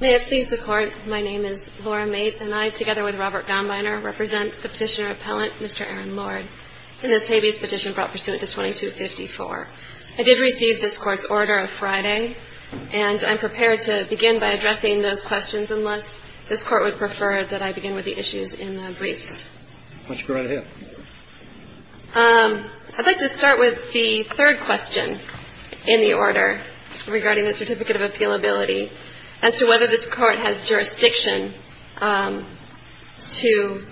May it please the Court, my name is Laura Maith, and I, together with Robert Gombiner, represent the petitioner-appellant, Mr. Aaron Lord, in this Habeas Petition brought pursuant to 2254. I did receive this Court's order of Friday, and I'm prepared to begin by addressing those questions unless this Court would prefer that I begin with the issues in the briefs. Why don't you go right ahead. I'd like to start with the third question in the order regarding the Certificate of Appealability. As to whether this Court has jurisdiction to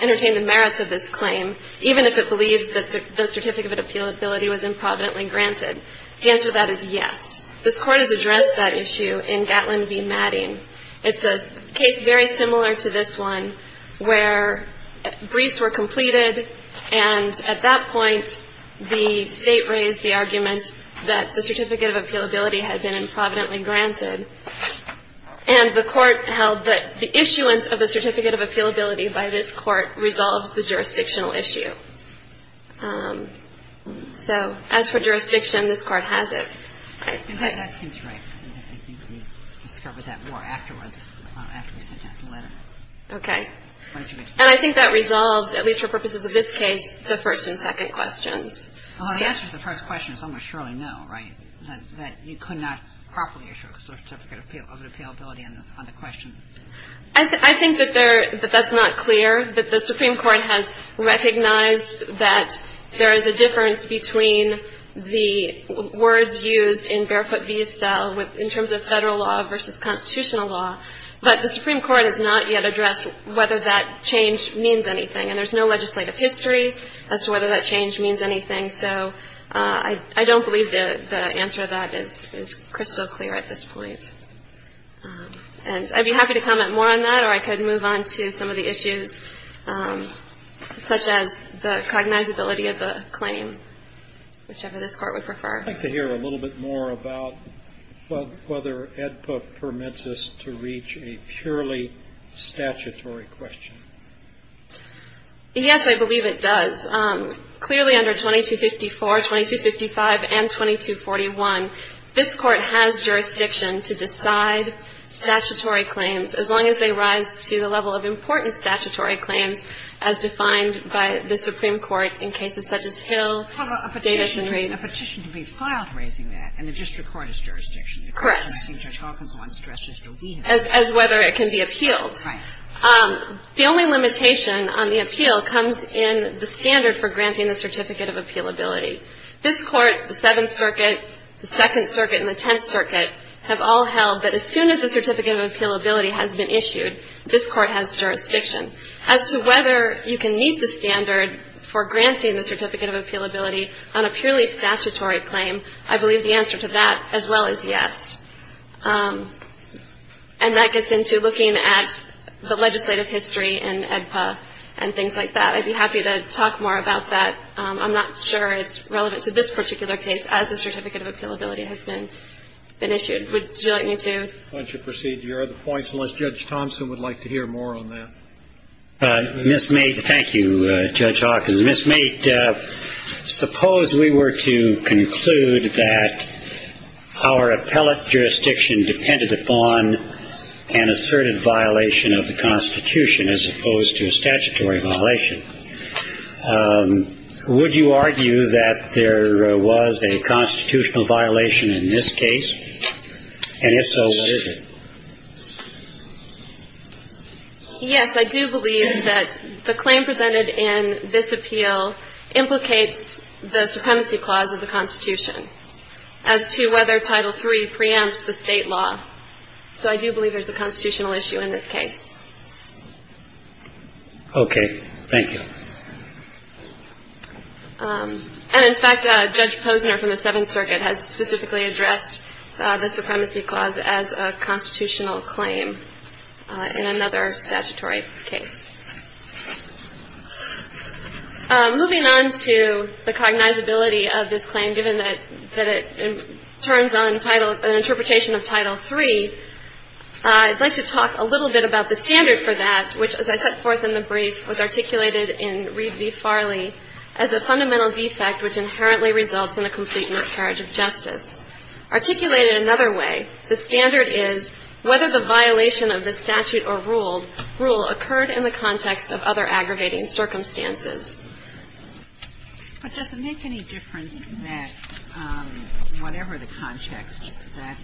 entertain the merits of this claim, even if it believes that the Certificate of Appealability was improvidently granted. The answer to that is yes. This Court has addressed that issue in Gatlin v. Matting. It's a case very similar to this one where briefs were completed, and at that point, the State raised the argument that the Certificate of Appealability had been improvidently granted. And the Court held that the issuance of the Certificate of Appealability by this Court resolves the jurisdictional issue. So as for jurisdiction, this Court has it. That seems right. I think we discovered that more afterwards, after we sent out the letter. Okay. And I think that resolves, at least for purposes of this case, the first and second questions. Well, the answer to the first question is almost surely no, right? That you could not properly issue a Certificate of Appealability on the question. I think that that's not clear, that the Supreme Court has recognized that there is a difference between the words used in barefoot v. Estelle in terms of Federal law versus Constitutional law. But the Supreme Court has not yet addressed whether that change means anything. And there's no legislative history as to whether that change means anything. So I don't believe the answer to that is crystal clear at this point. And I'd be happy to comment more on that, or I could move on to some of the issues, such as the cognizability of the claim, whichever this Court would prefer. I'd like to hear a little bit more about whether AEDPA permits us to reach a purely statutory question. Yes, I believe it does. Clearly under 2254, 2255, and 2241, this Court has jurisdiction to decide statutory claims as long as they rise to the level of important statutory claims as defined by the Supreme Court in cases such as Hill, Davidson Rape. Well, a petition can be filed raising that, and the district court has jurisdiction. Correct. It seems Judge Hawkins wants to address this. As to whether it can be appealed. Right. The only limitation on the appeal comes in the standard for granting the Certificate of Appealability. This Court, the Seventh Circuit, the Second Circuit, and the Tenth Circuit, have all held that as soon as the Certificate of Appealability has been issued, this Court has jurisdiction. As to whether you can meet the standard for granting the Certificate of Appealability on a purely statutory claim, I believe the answer to that as well is yes. And that gets into looking at the legislative history and AEDPA and things like that. I'd be happy to talk more about that. I'm not sure it's relevant to this particular case as the Certificate of Appealability has been issued. Would you like me to? Why don't you proceed to your other points, unless Judge Thompson would like to hear more on that. Ms. Mait, thank you, Judge Hawkins. Ms. Mait, suppose we were to conclude that our appellate jurisdiction depended upon an asserted violation of the Constitution as opposed to a statutory violation. Would you argue that there was a constitutional violation in this case? And if so, what is it? Yes, I do believe that the claim presented in this appeal implicates the supremacy clause of the Constitution as to whether Title III preempts the state law. So I do believe there's a constitutional issue in this case. Okay. Thank you. And, in fact, Judge Posner from the Seventh Circuit has specifically addressed the supremacy clause as a constitutional claim in another statutory case. Moving on to the cognizability of this claim, given that it turns on an interpretation of Title III, I'd like to talk a little bit about the standard for that, which, as I set forth in the brief, was articulated in Reed v. Farley as a fundamental defect, which inherently results in a complete miscarriage of justice. Articulated another way, the standard is whether the violation of the statute or rule occurred in the context of other aggravating circumstances. But does it make any difference that whatever the context, that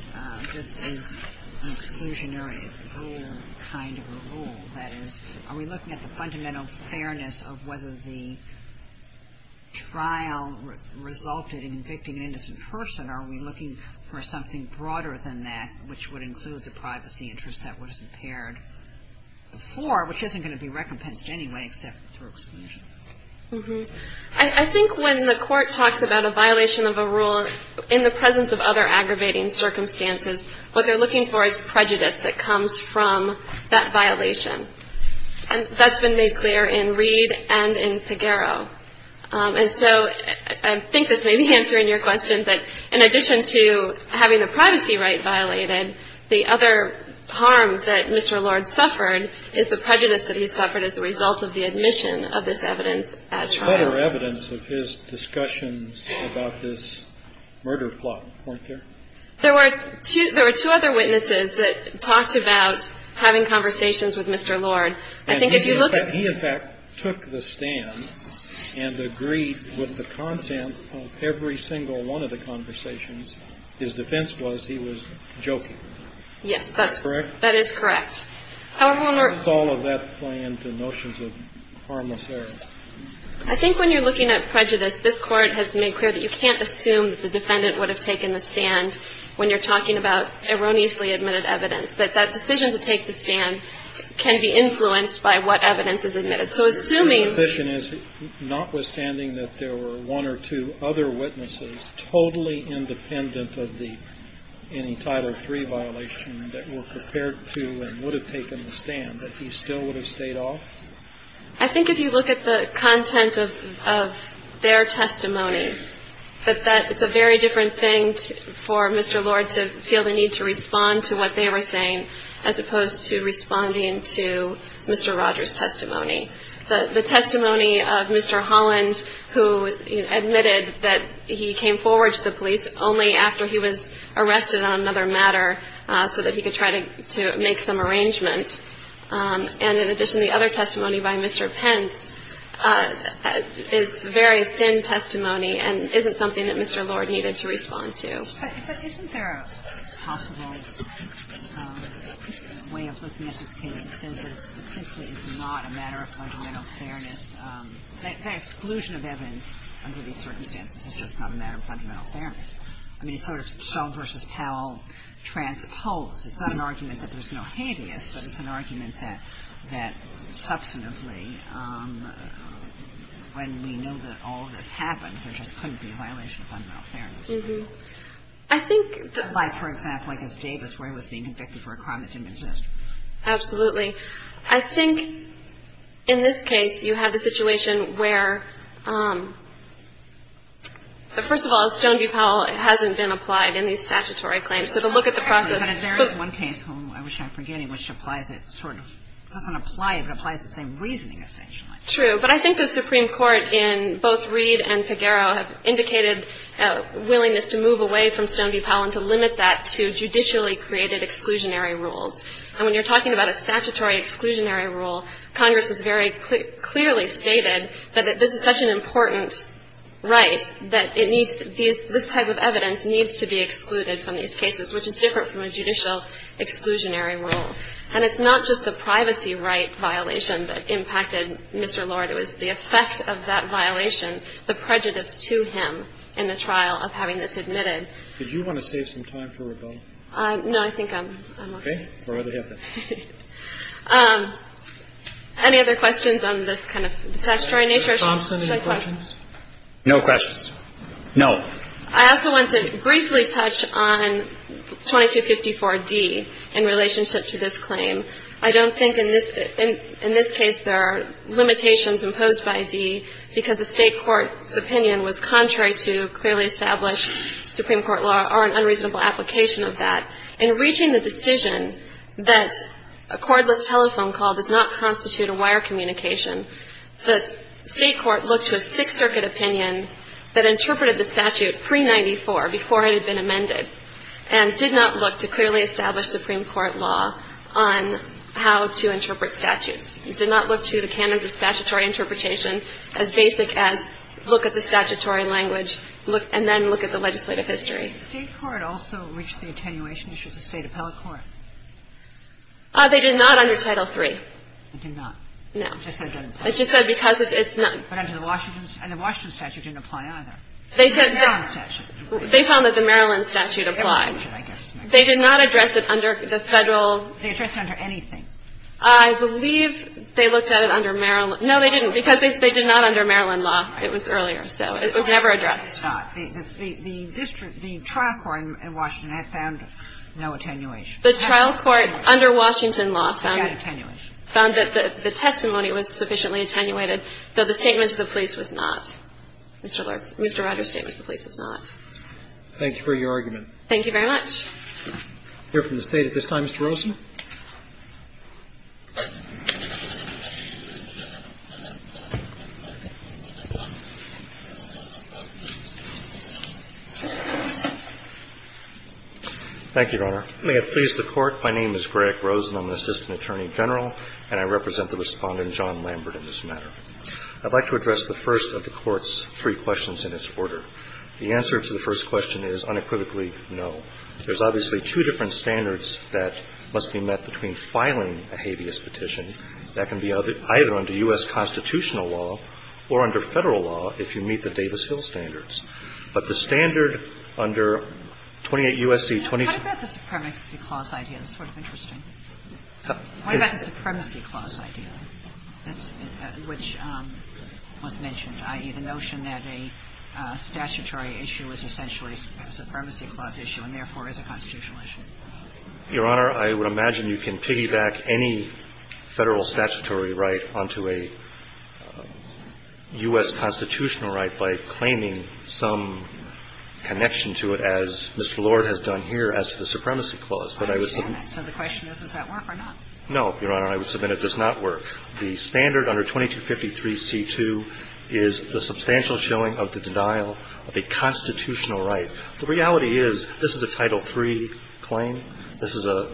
this is an exclusionary rule kind of a rule? That is, are we looking at the fundamental fairness of whether the trial resulted in convicting an innocent person? Are we looking for something broader than that, which would include the privacy interest that was impaired before, which isn't going to be recompensed anyway except through exclusion? I think when the Court talks about a violation of a rule in the presence of other aggravating circumstances, what they're looking for is prejudice that comes from that violation. And that's been made clear in Reed and in Pagaro. And so I think this may be answering your question, but in addition to having the privacy right violated, the other harm that Mr. Lord suffered is the prejudice that he suffered as the result of the admission of this evidence at trial. Better evidence of his discussions about this murder plot, weren't there? There were two other witnesses that talked about having conversations with Mr. Lord. And he, in fact, took the stand and agreed with the content of every single one of the conversations. His defense was he was joking. Yes, that's correct. That is correct. How does all of that play into notions of harmless error? I think when you're looking at prejudice, this Court has made clear that you can't assume that the defendant would have taken the stand when you're talking about erroneously admitted evidence, that that decision to take the stand can be influenced by what evidence is admitted. So assuming — Your question is, notwithstanding that there were one or two other witnesses totally independent of any Title III violation that were prepared to and would have taken the stand, that he still would have stayed off? I think if you look at the content of their testimony, that it's a very different thing for Mr. Lord to feel the need to respond to what they were saying, as opposed to responding to Mr. Rogers' testimony. The testimony of Mr. Holland, who admitted that he came forward to the police only after he was arrested on another matter so that he could try to make some arrangements, and in addition, the other testimony by Mr. Pence, is very thin testimony and isn't something that Mr. Lord needed to respond to. But isn't there a possible way of looking at this case that says that it simply is not a matter of fundamental fairness? That exclusion of evidence under these circumstances is just not a matter of fundamental fairness. I mean, it's sort of Stone v. Powell transposed. It's not an argument that there's no habeas, but it's an argument that substantively, when we know that all of this happens, there just couldn't be a violation of fundamental fairness. Like, for example, I guess Davis, where he was being convicted for a crime that didn't exist. Absolutely. I think in this case, you have a situation where, first of all, Stone v. Powell hasn't been applied in these statutory claims. So to look at the process. But there is one case, whom I wish I'm forgetting, which applies it sort of, doesn't apply it, but applies the same reasoning, essentially. True. But I think the Supreme Court in both Reed and Figueroa have indicated a willingness to move away from Stone v. Powell and to limit that to judicially-created exclusionary rules. And when you're talking about a statutory exclusionary rule, Congress has very clearly stated that this is such an important right that it needs to be, this type of evidence needs to be excluded from these cases, which is different from a judicial exclusionary rule. And it's not just the privacy right violation that impacted Mr. Lord. It was the effect of that violation, the prejudice to him in the trial of having this admitted. Did you want to save some time for rebuttal? No, I think I'm okay. Okay. We're ready to have that. Any other questions on this kind of statutory nature? Ms. Thompson, any questions? No questions. No. I also want to briefly touch on 2254D in relationship to this claim. I don't think in this case there are limitations imposed by D because the State Court's opinion was contrary to clearly established Supreme Court law or an unreasonable application of that. In reaching the decision that a cordless telephone call does not constitute a wire communication, the State Court looked to a Sixth Circuit opinion that interpreted the statute pre-'94, before it had been amended, and did not look to clearly established Supreme Court law on how to interpret statutes. It did not look to the canons of statutory interpretation as basic as look at the statutory language and then look at the legislative history. Did the State Court also reach the attenuation issues of State appellate court? They did not under Title III. They did not. No. I just said it doesn't apply. I just said because it's not. But under the Washington Statute, and the Washington Statute didn't apply either. They said that. They found that the Maryland statute applied. They did not address it under the Federal. They addressed it under anything. I believe they looked at it under Maryland. No, they didn't, because they did not under Maryland law. It was earlier. So it was never addressed. It's not. The district, the trial court in Washington had found no attenuation. The trial court under Washington law found that the testimony was sufficiently attenuated, though the statement to the police was not. Mr. Rogers' statement to the police was not. Thank you for your argument. Thank you very much. We'll hear from the State at this time. Mr. Rosen. Thank you, Your Honor. May it please the Court. My name is Greg Rosen. I'm an assistant attorney general, and I represent the Respondent, John Lambert, in this matter. I'd like to address the first of the Court's three questions in its order. The answer to the first question is unequivocally no. There's obviously two different standards that must be met between filing a habeas petition. That can be either under U.S. constitutional law or under Federal law if you meet the Davis-Hill standards. But the standard under 28 U.S.C. 22. What about the Supremacy Clause, ideally, which was mentioned, i.e., the notion that a statutory issue is essentially a Supremacy Clause issue and therefore is a constitutional issue? Your Honor, I would imagine you can piggyback any Federal statutory right onto a U.S. constitutional right by claiming some connection to it, as Mr. Lord has done here as to the Supremacy Clause. I understand that. So the question is, does that work or not? No, Your Honor. I would submit it does not work. The standard under 2253c2 is the substantial showing of the denial of a constitutional right. The reality is this is a Title III claim. This is a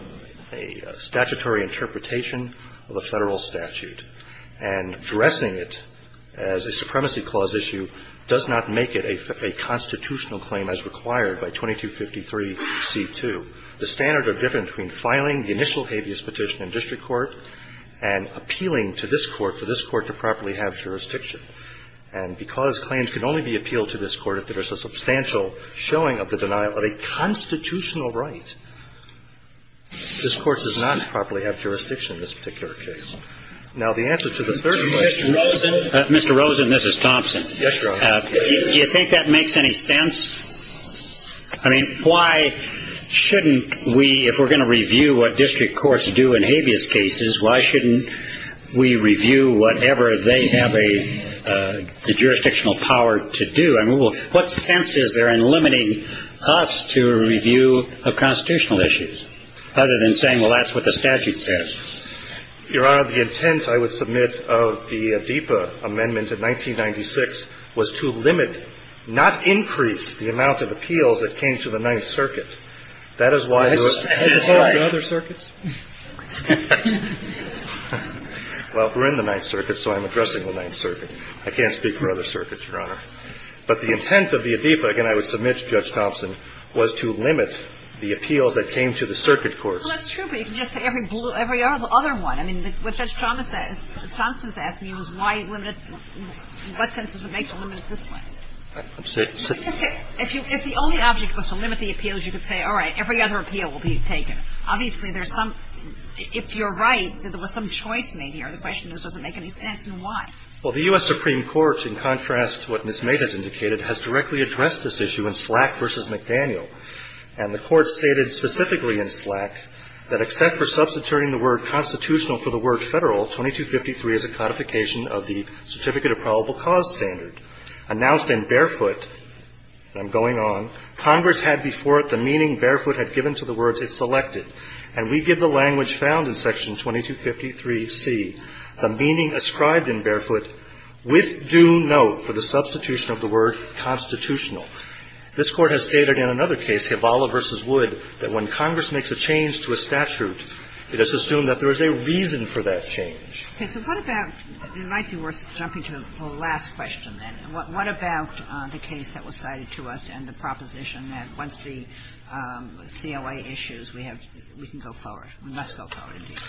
statutory interpretation of a Federal statute. And dressing it as a Supremacy Clause issue does not make it a constitutional claim as required by 2253c2. The standards are different between filing the initial habeas petition in district court and appealing to this Court for this Court to properly have jurisdiction. And because claims can only be appealed to this Court if there is a substantial showing of the denial of a constitutional right, this Court does not properly have jurisdiction in this particular case. Now, the answer to the third question. Mr. Rosen. Mr. Rosen, this is Thompson. Yes, Your Honor. Do you think that makes any sense? I mean, why shouldn't we, if we're going to review what district courts do in habeas cases, why shouldn't we review whatever they have a jurisdictional power to do? I mean, what sense is there in limiting us to a review of constitutional issues, other than saying, well, that's what the statute says? Your Honor, the intent, I would submit, of the DIPA amendment in 1996 was to limit, not increase, the amount of appeals that came to the Ninth Circuit. That is why the other circuits. Well, we're in the Ninth Circuit, so I'm addressing the Ninth Circuit. I can't speak for other circuits, Your Honor. But the intent of the DIPA, again, I would submit to Judge Thompson, was to limit the appeals that came to the circuit court. Well, that's true, but you can just say every other one. I mean, what Judge Thompson has asked me was why limit it, what sense does it make to limit it this way? If the only object was to limit the appeals, you could say, all right, every other appeal will be taken. Obviously, there's some, if you're right, there was some choice made here. The question is, does it make any sense, and why? Well, the U.S. Supreme Court, in contrast to what Ms. Maid has indicated, has directly addressed this issue in Slack v. McDaniel. And the Court stated specifically in Slack that, except for substituting the word constitutional for the word Federal, 2253 is a codification of the Certificate of Probable Cause standard, announced in barefoot, and I'm going on, Congress had before it the meaning barefoot had given to the words it selected. And we give the language found in Section 2253C the meaning ascribed in barefoot with due note for the substitution of the word constitutional. This Court has stated in another case, Hivala v. Wood, that when Congress makes a change to a statute, it is assumed that there is a reason for that change. Okay. So what about, it might be worth jumping to the last question, then. What about the case that was cited to us and the proposition that once the COA issues, we have, we can go forward? We must go forward, indeed.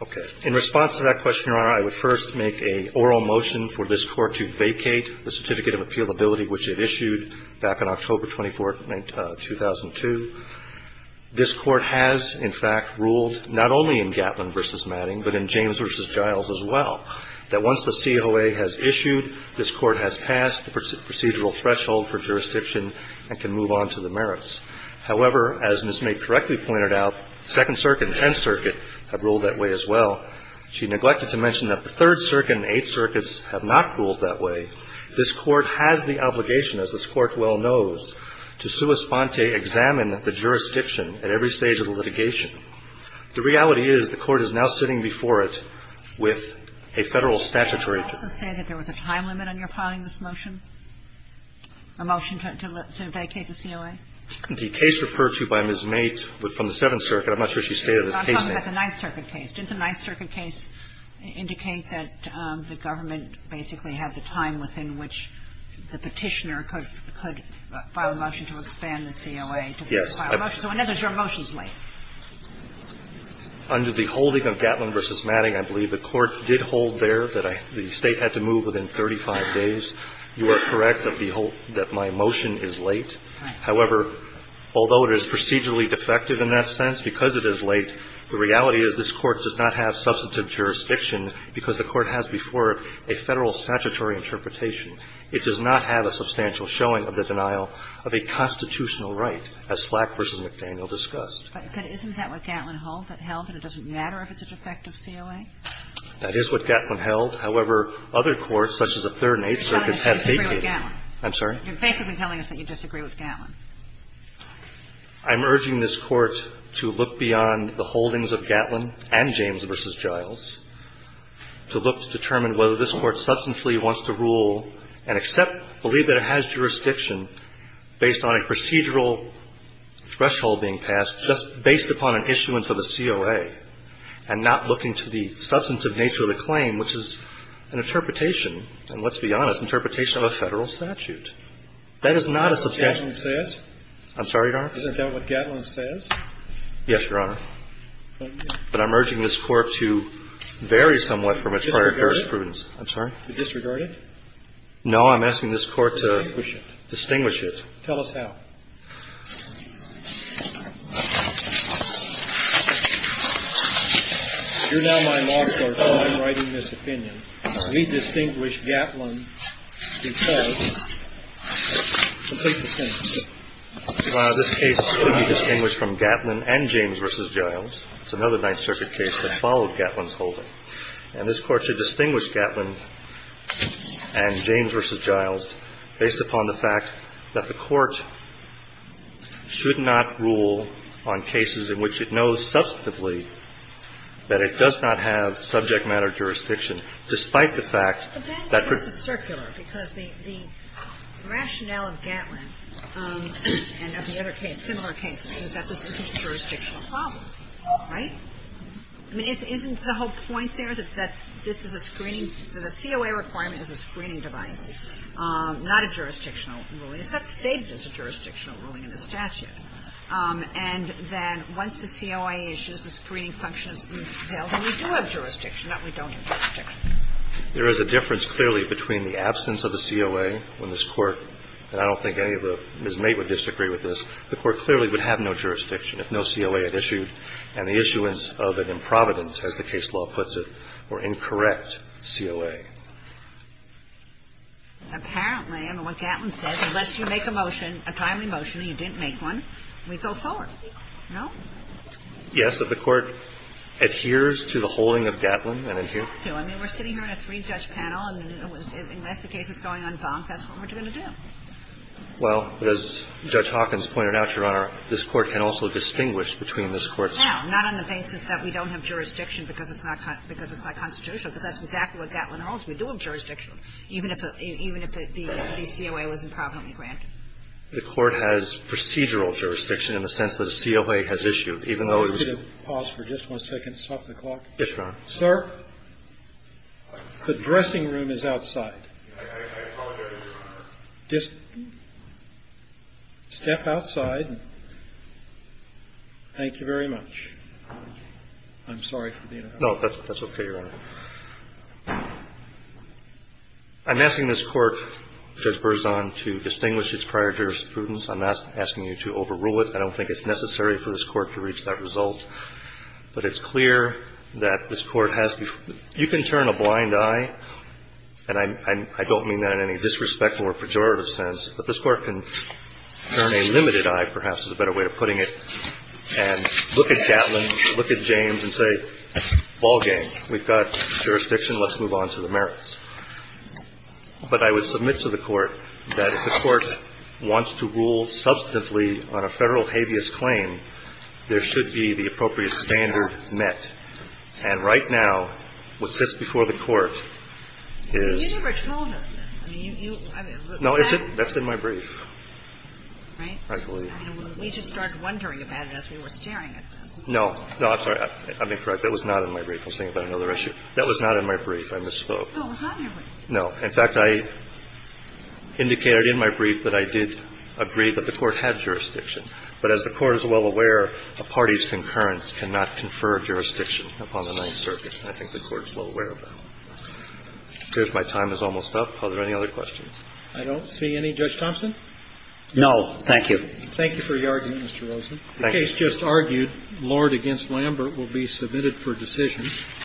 Okay. In response to that question, Your Honor, I would first make an oral motion for this Court to vacate the Certificate of Appealability, which it issued back on October 24, 2002. This Court has, in fact, ruled not only in Gatlin v. Madding, but in James v. Giles as well, that once the COA has issued, this Court has passed the procedural threshold for jurisdiction and can move on to the merits. However, as Ms. May correctly pointed out, Second Circuit and Tenth Circuit have ruled that way as well. She neglected to mention that the Third Circuit and Eighth Circuits have not ruled that way. This Court has the obligation, as this Court well knows, to sua sponte examine the jurisdiction at every stage of the litigation. The reality is the Court is now sitting before it with a Federal statutory judgment. Can I also say that there was a time limit on your filing this motion, a motion to vacate the COA? The case referred to by Ms. May from the Seventh Circuit, I'm not sure she stated the case name. I'm talking about the Ninth Circuit case. Didn't the Ninth Circuit case indicate that the government basically had the time within which the Petitioner could file a motion to expand the COA to file a motion? So in other words, your motion is late. Under the holding of Gatlin v. Madding, I believe the Court did hold there that the State had to move within 35 days. You are correct that my motion is late. However, although it is procedurally defective in that sense, because it is late, the reality is this Court does not have substantive jurisdiction because the Court has before it a Federal statutory interpretation. It does not have a substantial showing of the denial of a constitutional right, as Slack v. McDaniel discussed. But isn't that what Gatlin held, that it doesn't matter if it's a defective COA? That is what Gatlin held. However, other courts, such as the Third and Eighth Circuits, have vacated. You're basically telling us that you disagree with Gatlin. I'm urging this Court to look beyond the holdings of Gatlin and James v. Giles, to look to determine whether this Court substantially wants to rule and accept, believe that it has jurisdiction based on a procedural threshold being passed, just based upon an issuance of a COA, and not looking to the substantive nature of the claim, which is an interpretation, and let's be honest, interpretation of a Federal statute. That is not a substantial Gatlin says? I'm sorry, Your Honor? Isn't that what Gatlin says? Yes, Your Honor. But I'm urging this Court to vary somewhat from its prior jurisprudence. Disregard it? I'm sorry? To disregard it? No, I'm asking this Court to distinguish it. Tell us how. You're now my marker for whom I'm writing this opinion. Well, this case should be distinguished from Gatlin and James v. Giles. It's another Ninth Circuit case that followed Gatlin's holding. And this Court should distinguish Gatlin and James v. Giles based upon the fact that the Court should not rule on cases in which it knows substantively that it does not have subject-matter jurisdiction, despite the fact that the. But that, of course, is circular, because the rationale of Gatlin and of the other case, similar case, is that this is a jurisdictional problem, right? I mean, isn't the whole point there that this is a screening? The COA requirement is a screening device, not a jurisdictional ruling. It's not stated as a jurisdictional ruling in the statute. And then once the COA issues the screening function, we do have jurisdiction, not we don't have jurisdiction. There is a difference clearly between the absence of the COA when this Court, and I don't think any of the Ms. Mait would disagree with this, the Court clearly would have no jurisdiction if no COA had issued, and the issuance of an improvident, as the case law puts it, or incorrect COA. Apparently, and what Gatlin said, unless you make a motion, a timely motion, and you didn't make one, we go forward, no? Yes. If the Court adheres to the holding of Gatlin and adheres to it. I mean, we're sitting here in a three-judge panel, and unless the case is going on bonk, that's what we're going to do. Well, as Judge Hawkins pointed out, Your Honor, this Court can also distinguish between this Court's. Now, not on the basis that we don't have jurisdiction because it's not constitutional, because that's exactly what Gatlin holds. We do have jurisdiction, even if the COA was improvidently granted. The Court has procedural jurisdiction in the sense that a COA has issued, even though it was used. Could you pause for just one second and stop the clock? Yes, Your Honor. Sir? The dressing room is outside. I apologize, Your Honor. Just step outside. Thank you very much. I'm sorry for being a hassle. No, that's okay, Your Honor. I'm asking this Court, Judge Berzon, to distinguish its prior jurisprudence. I'm not asking you to overrule it. I don't think it's necessary for this Court to reach that result. But it's clear that this Court has to be you can turn a blind eye, and I don't mean that in any disrespectful or pejorative sense, but this Court can turn a limited eye, perhaps is a better way of putting it, and look at Gatlin, look at James and say, ball games. We've got jurisdiction. Let's move on to the merits. But I would submit to the Court that if the Court wants to rule substantively on a Federal habeas claim, there should be the appropriate standard met. And right now, what sits before the Court is the statute. But you never told us this. I mean, you, I mean, was that? No, that's in my brief. Right? I believe. We just started wondering about it as we were staring at this. No. No, I'm sorry. I may be correct. That was not in my brief. I was thinking about another issue. That was not in my brief. I misspoke. No. In fact, I indicated in my brief that I did agree that the Court had jurisdiction. But as the Court is well aware, a party's concurrence cannot confer jurisdiction upon the Ninth Circuit. And I think the Court is well aware of that. I think my time is almost up. Are there any other questions? I don't see any. Judge Thompson? No, thank you. Thank you for your argument, Mr. Rosen. Thank you. I just argued Lord v. Lambert will be submitted for decision.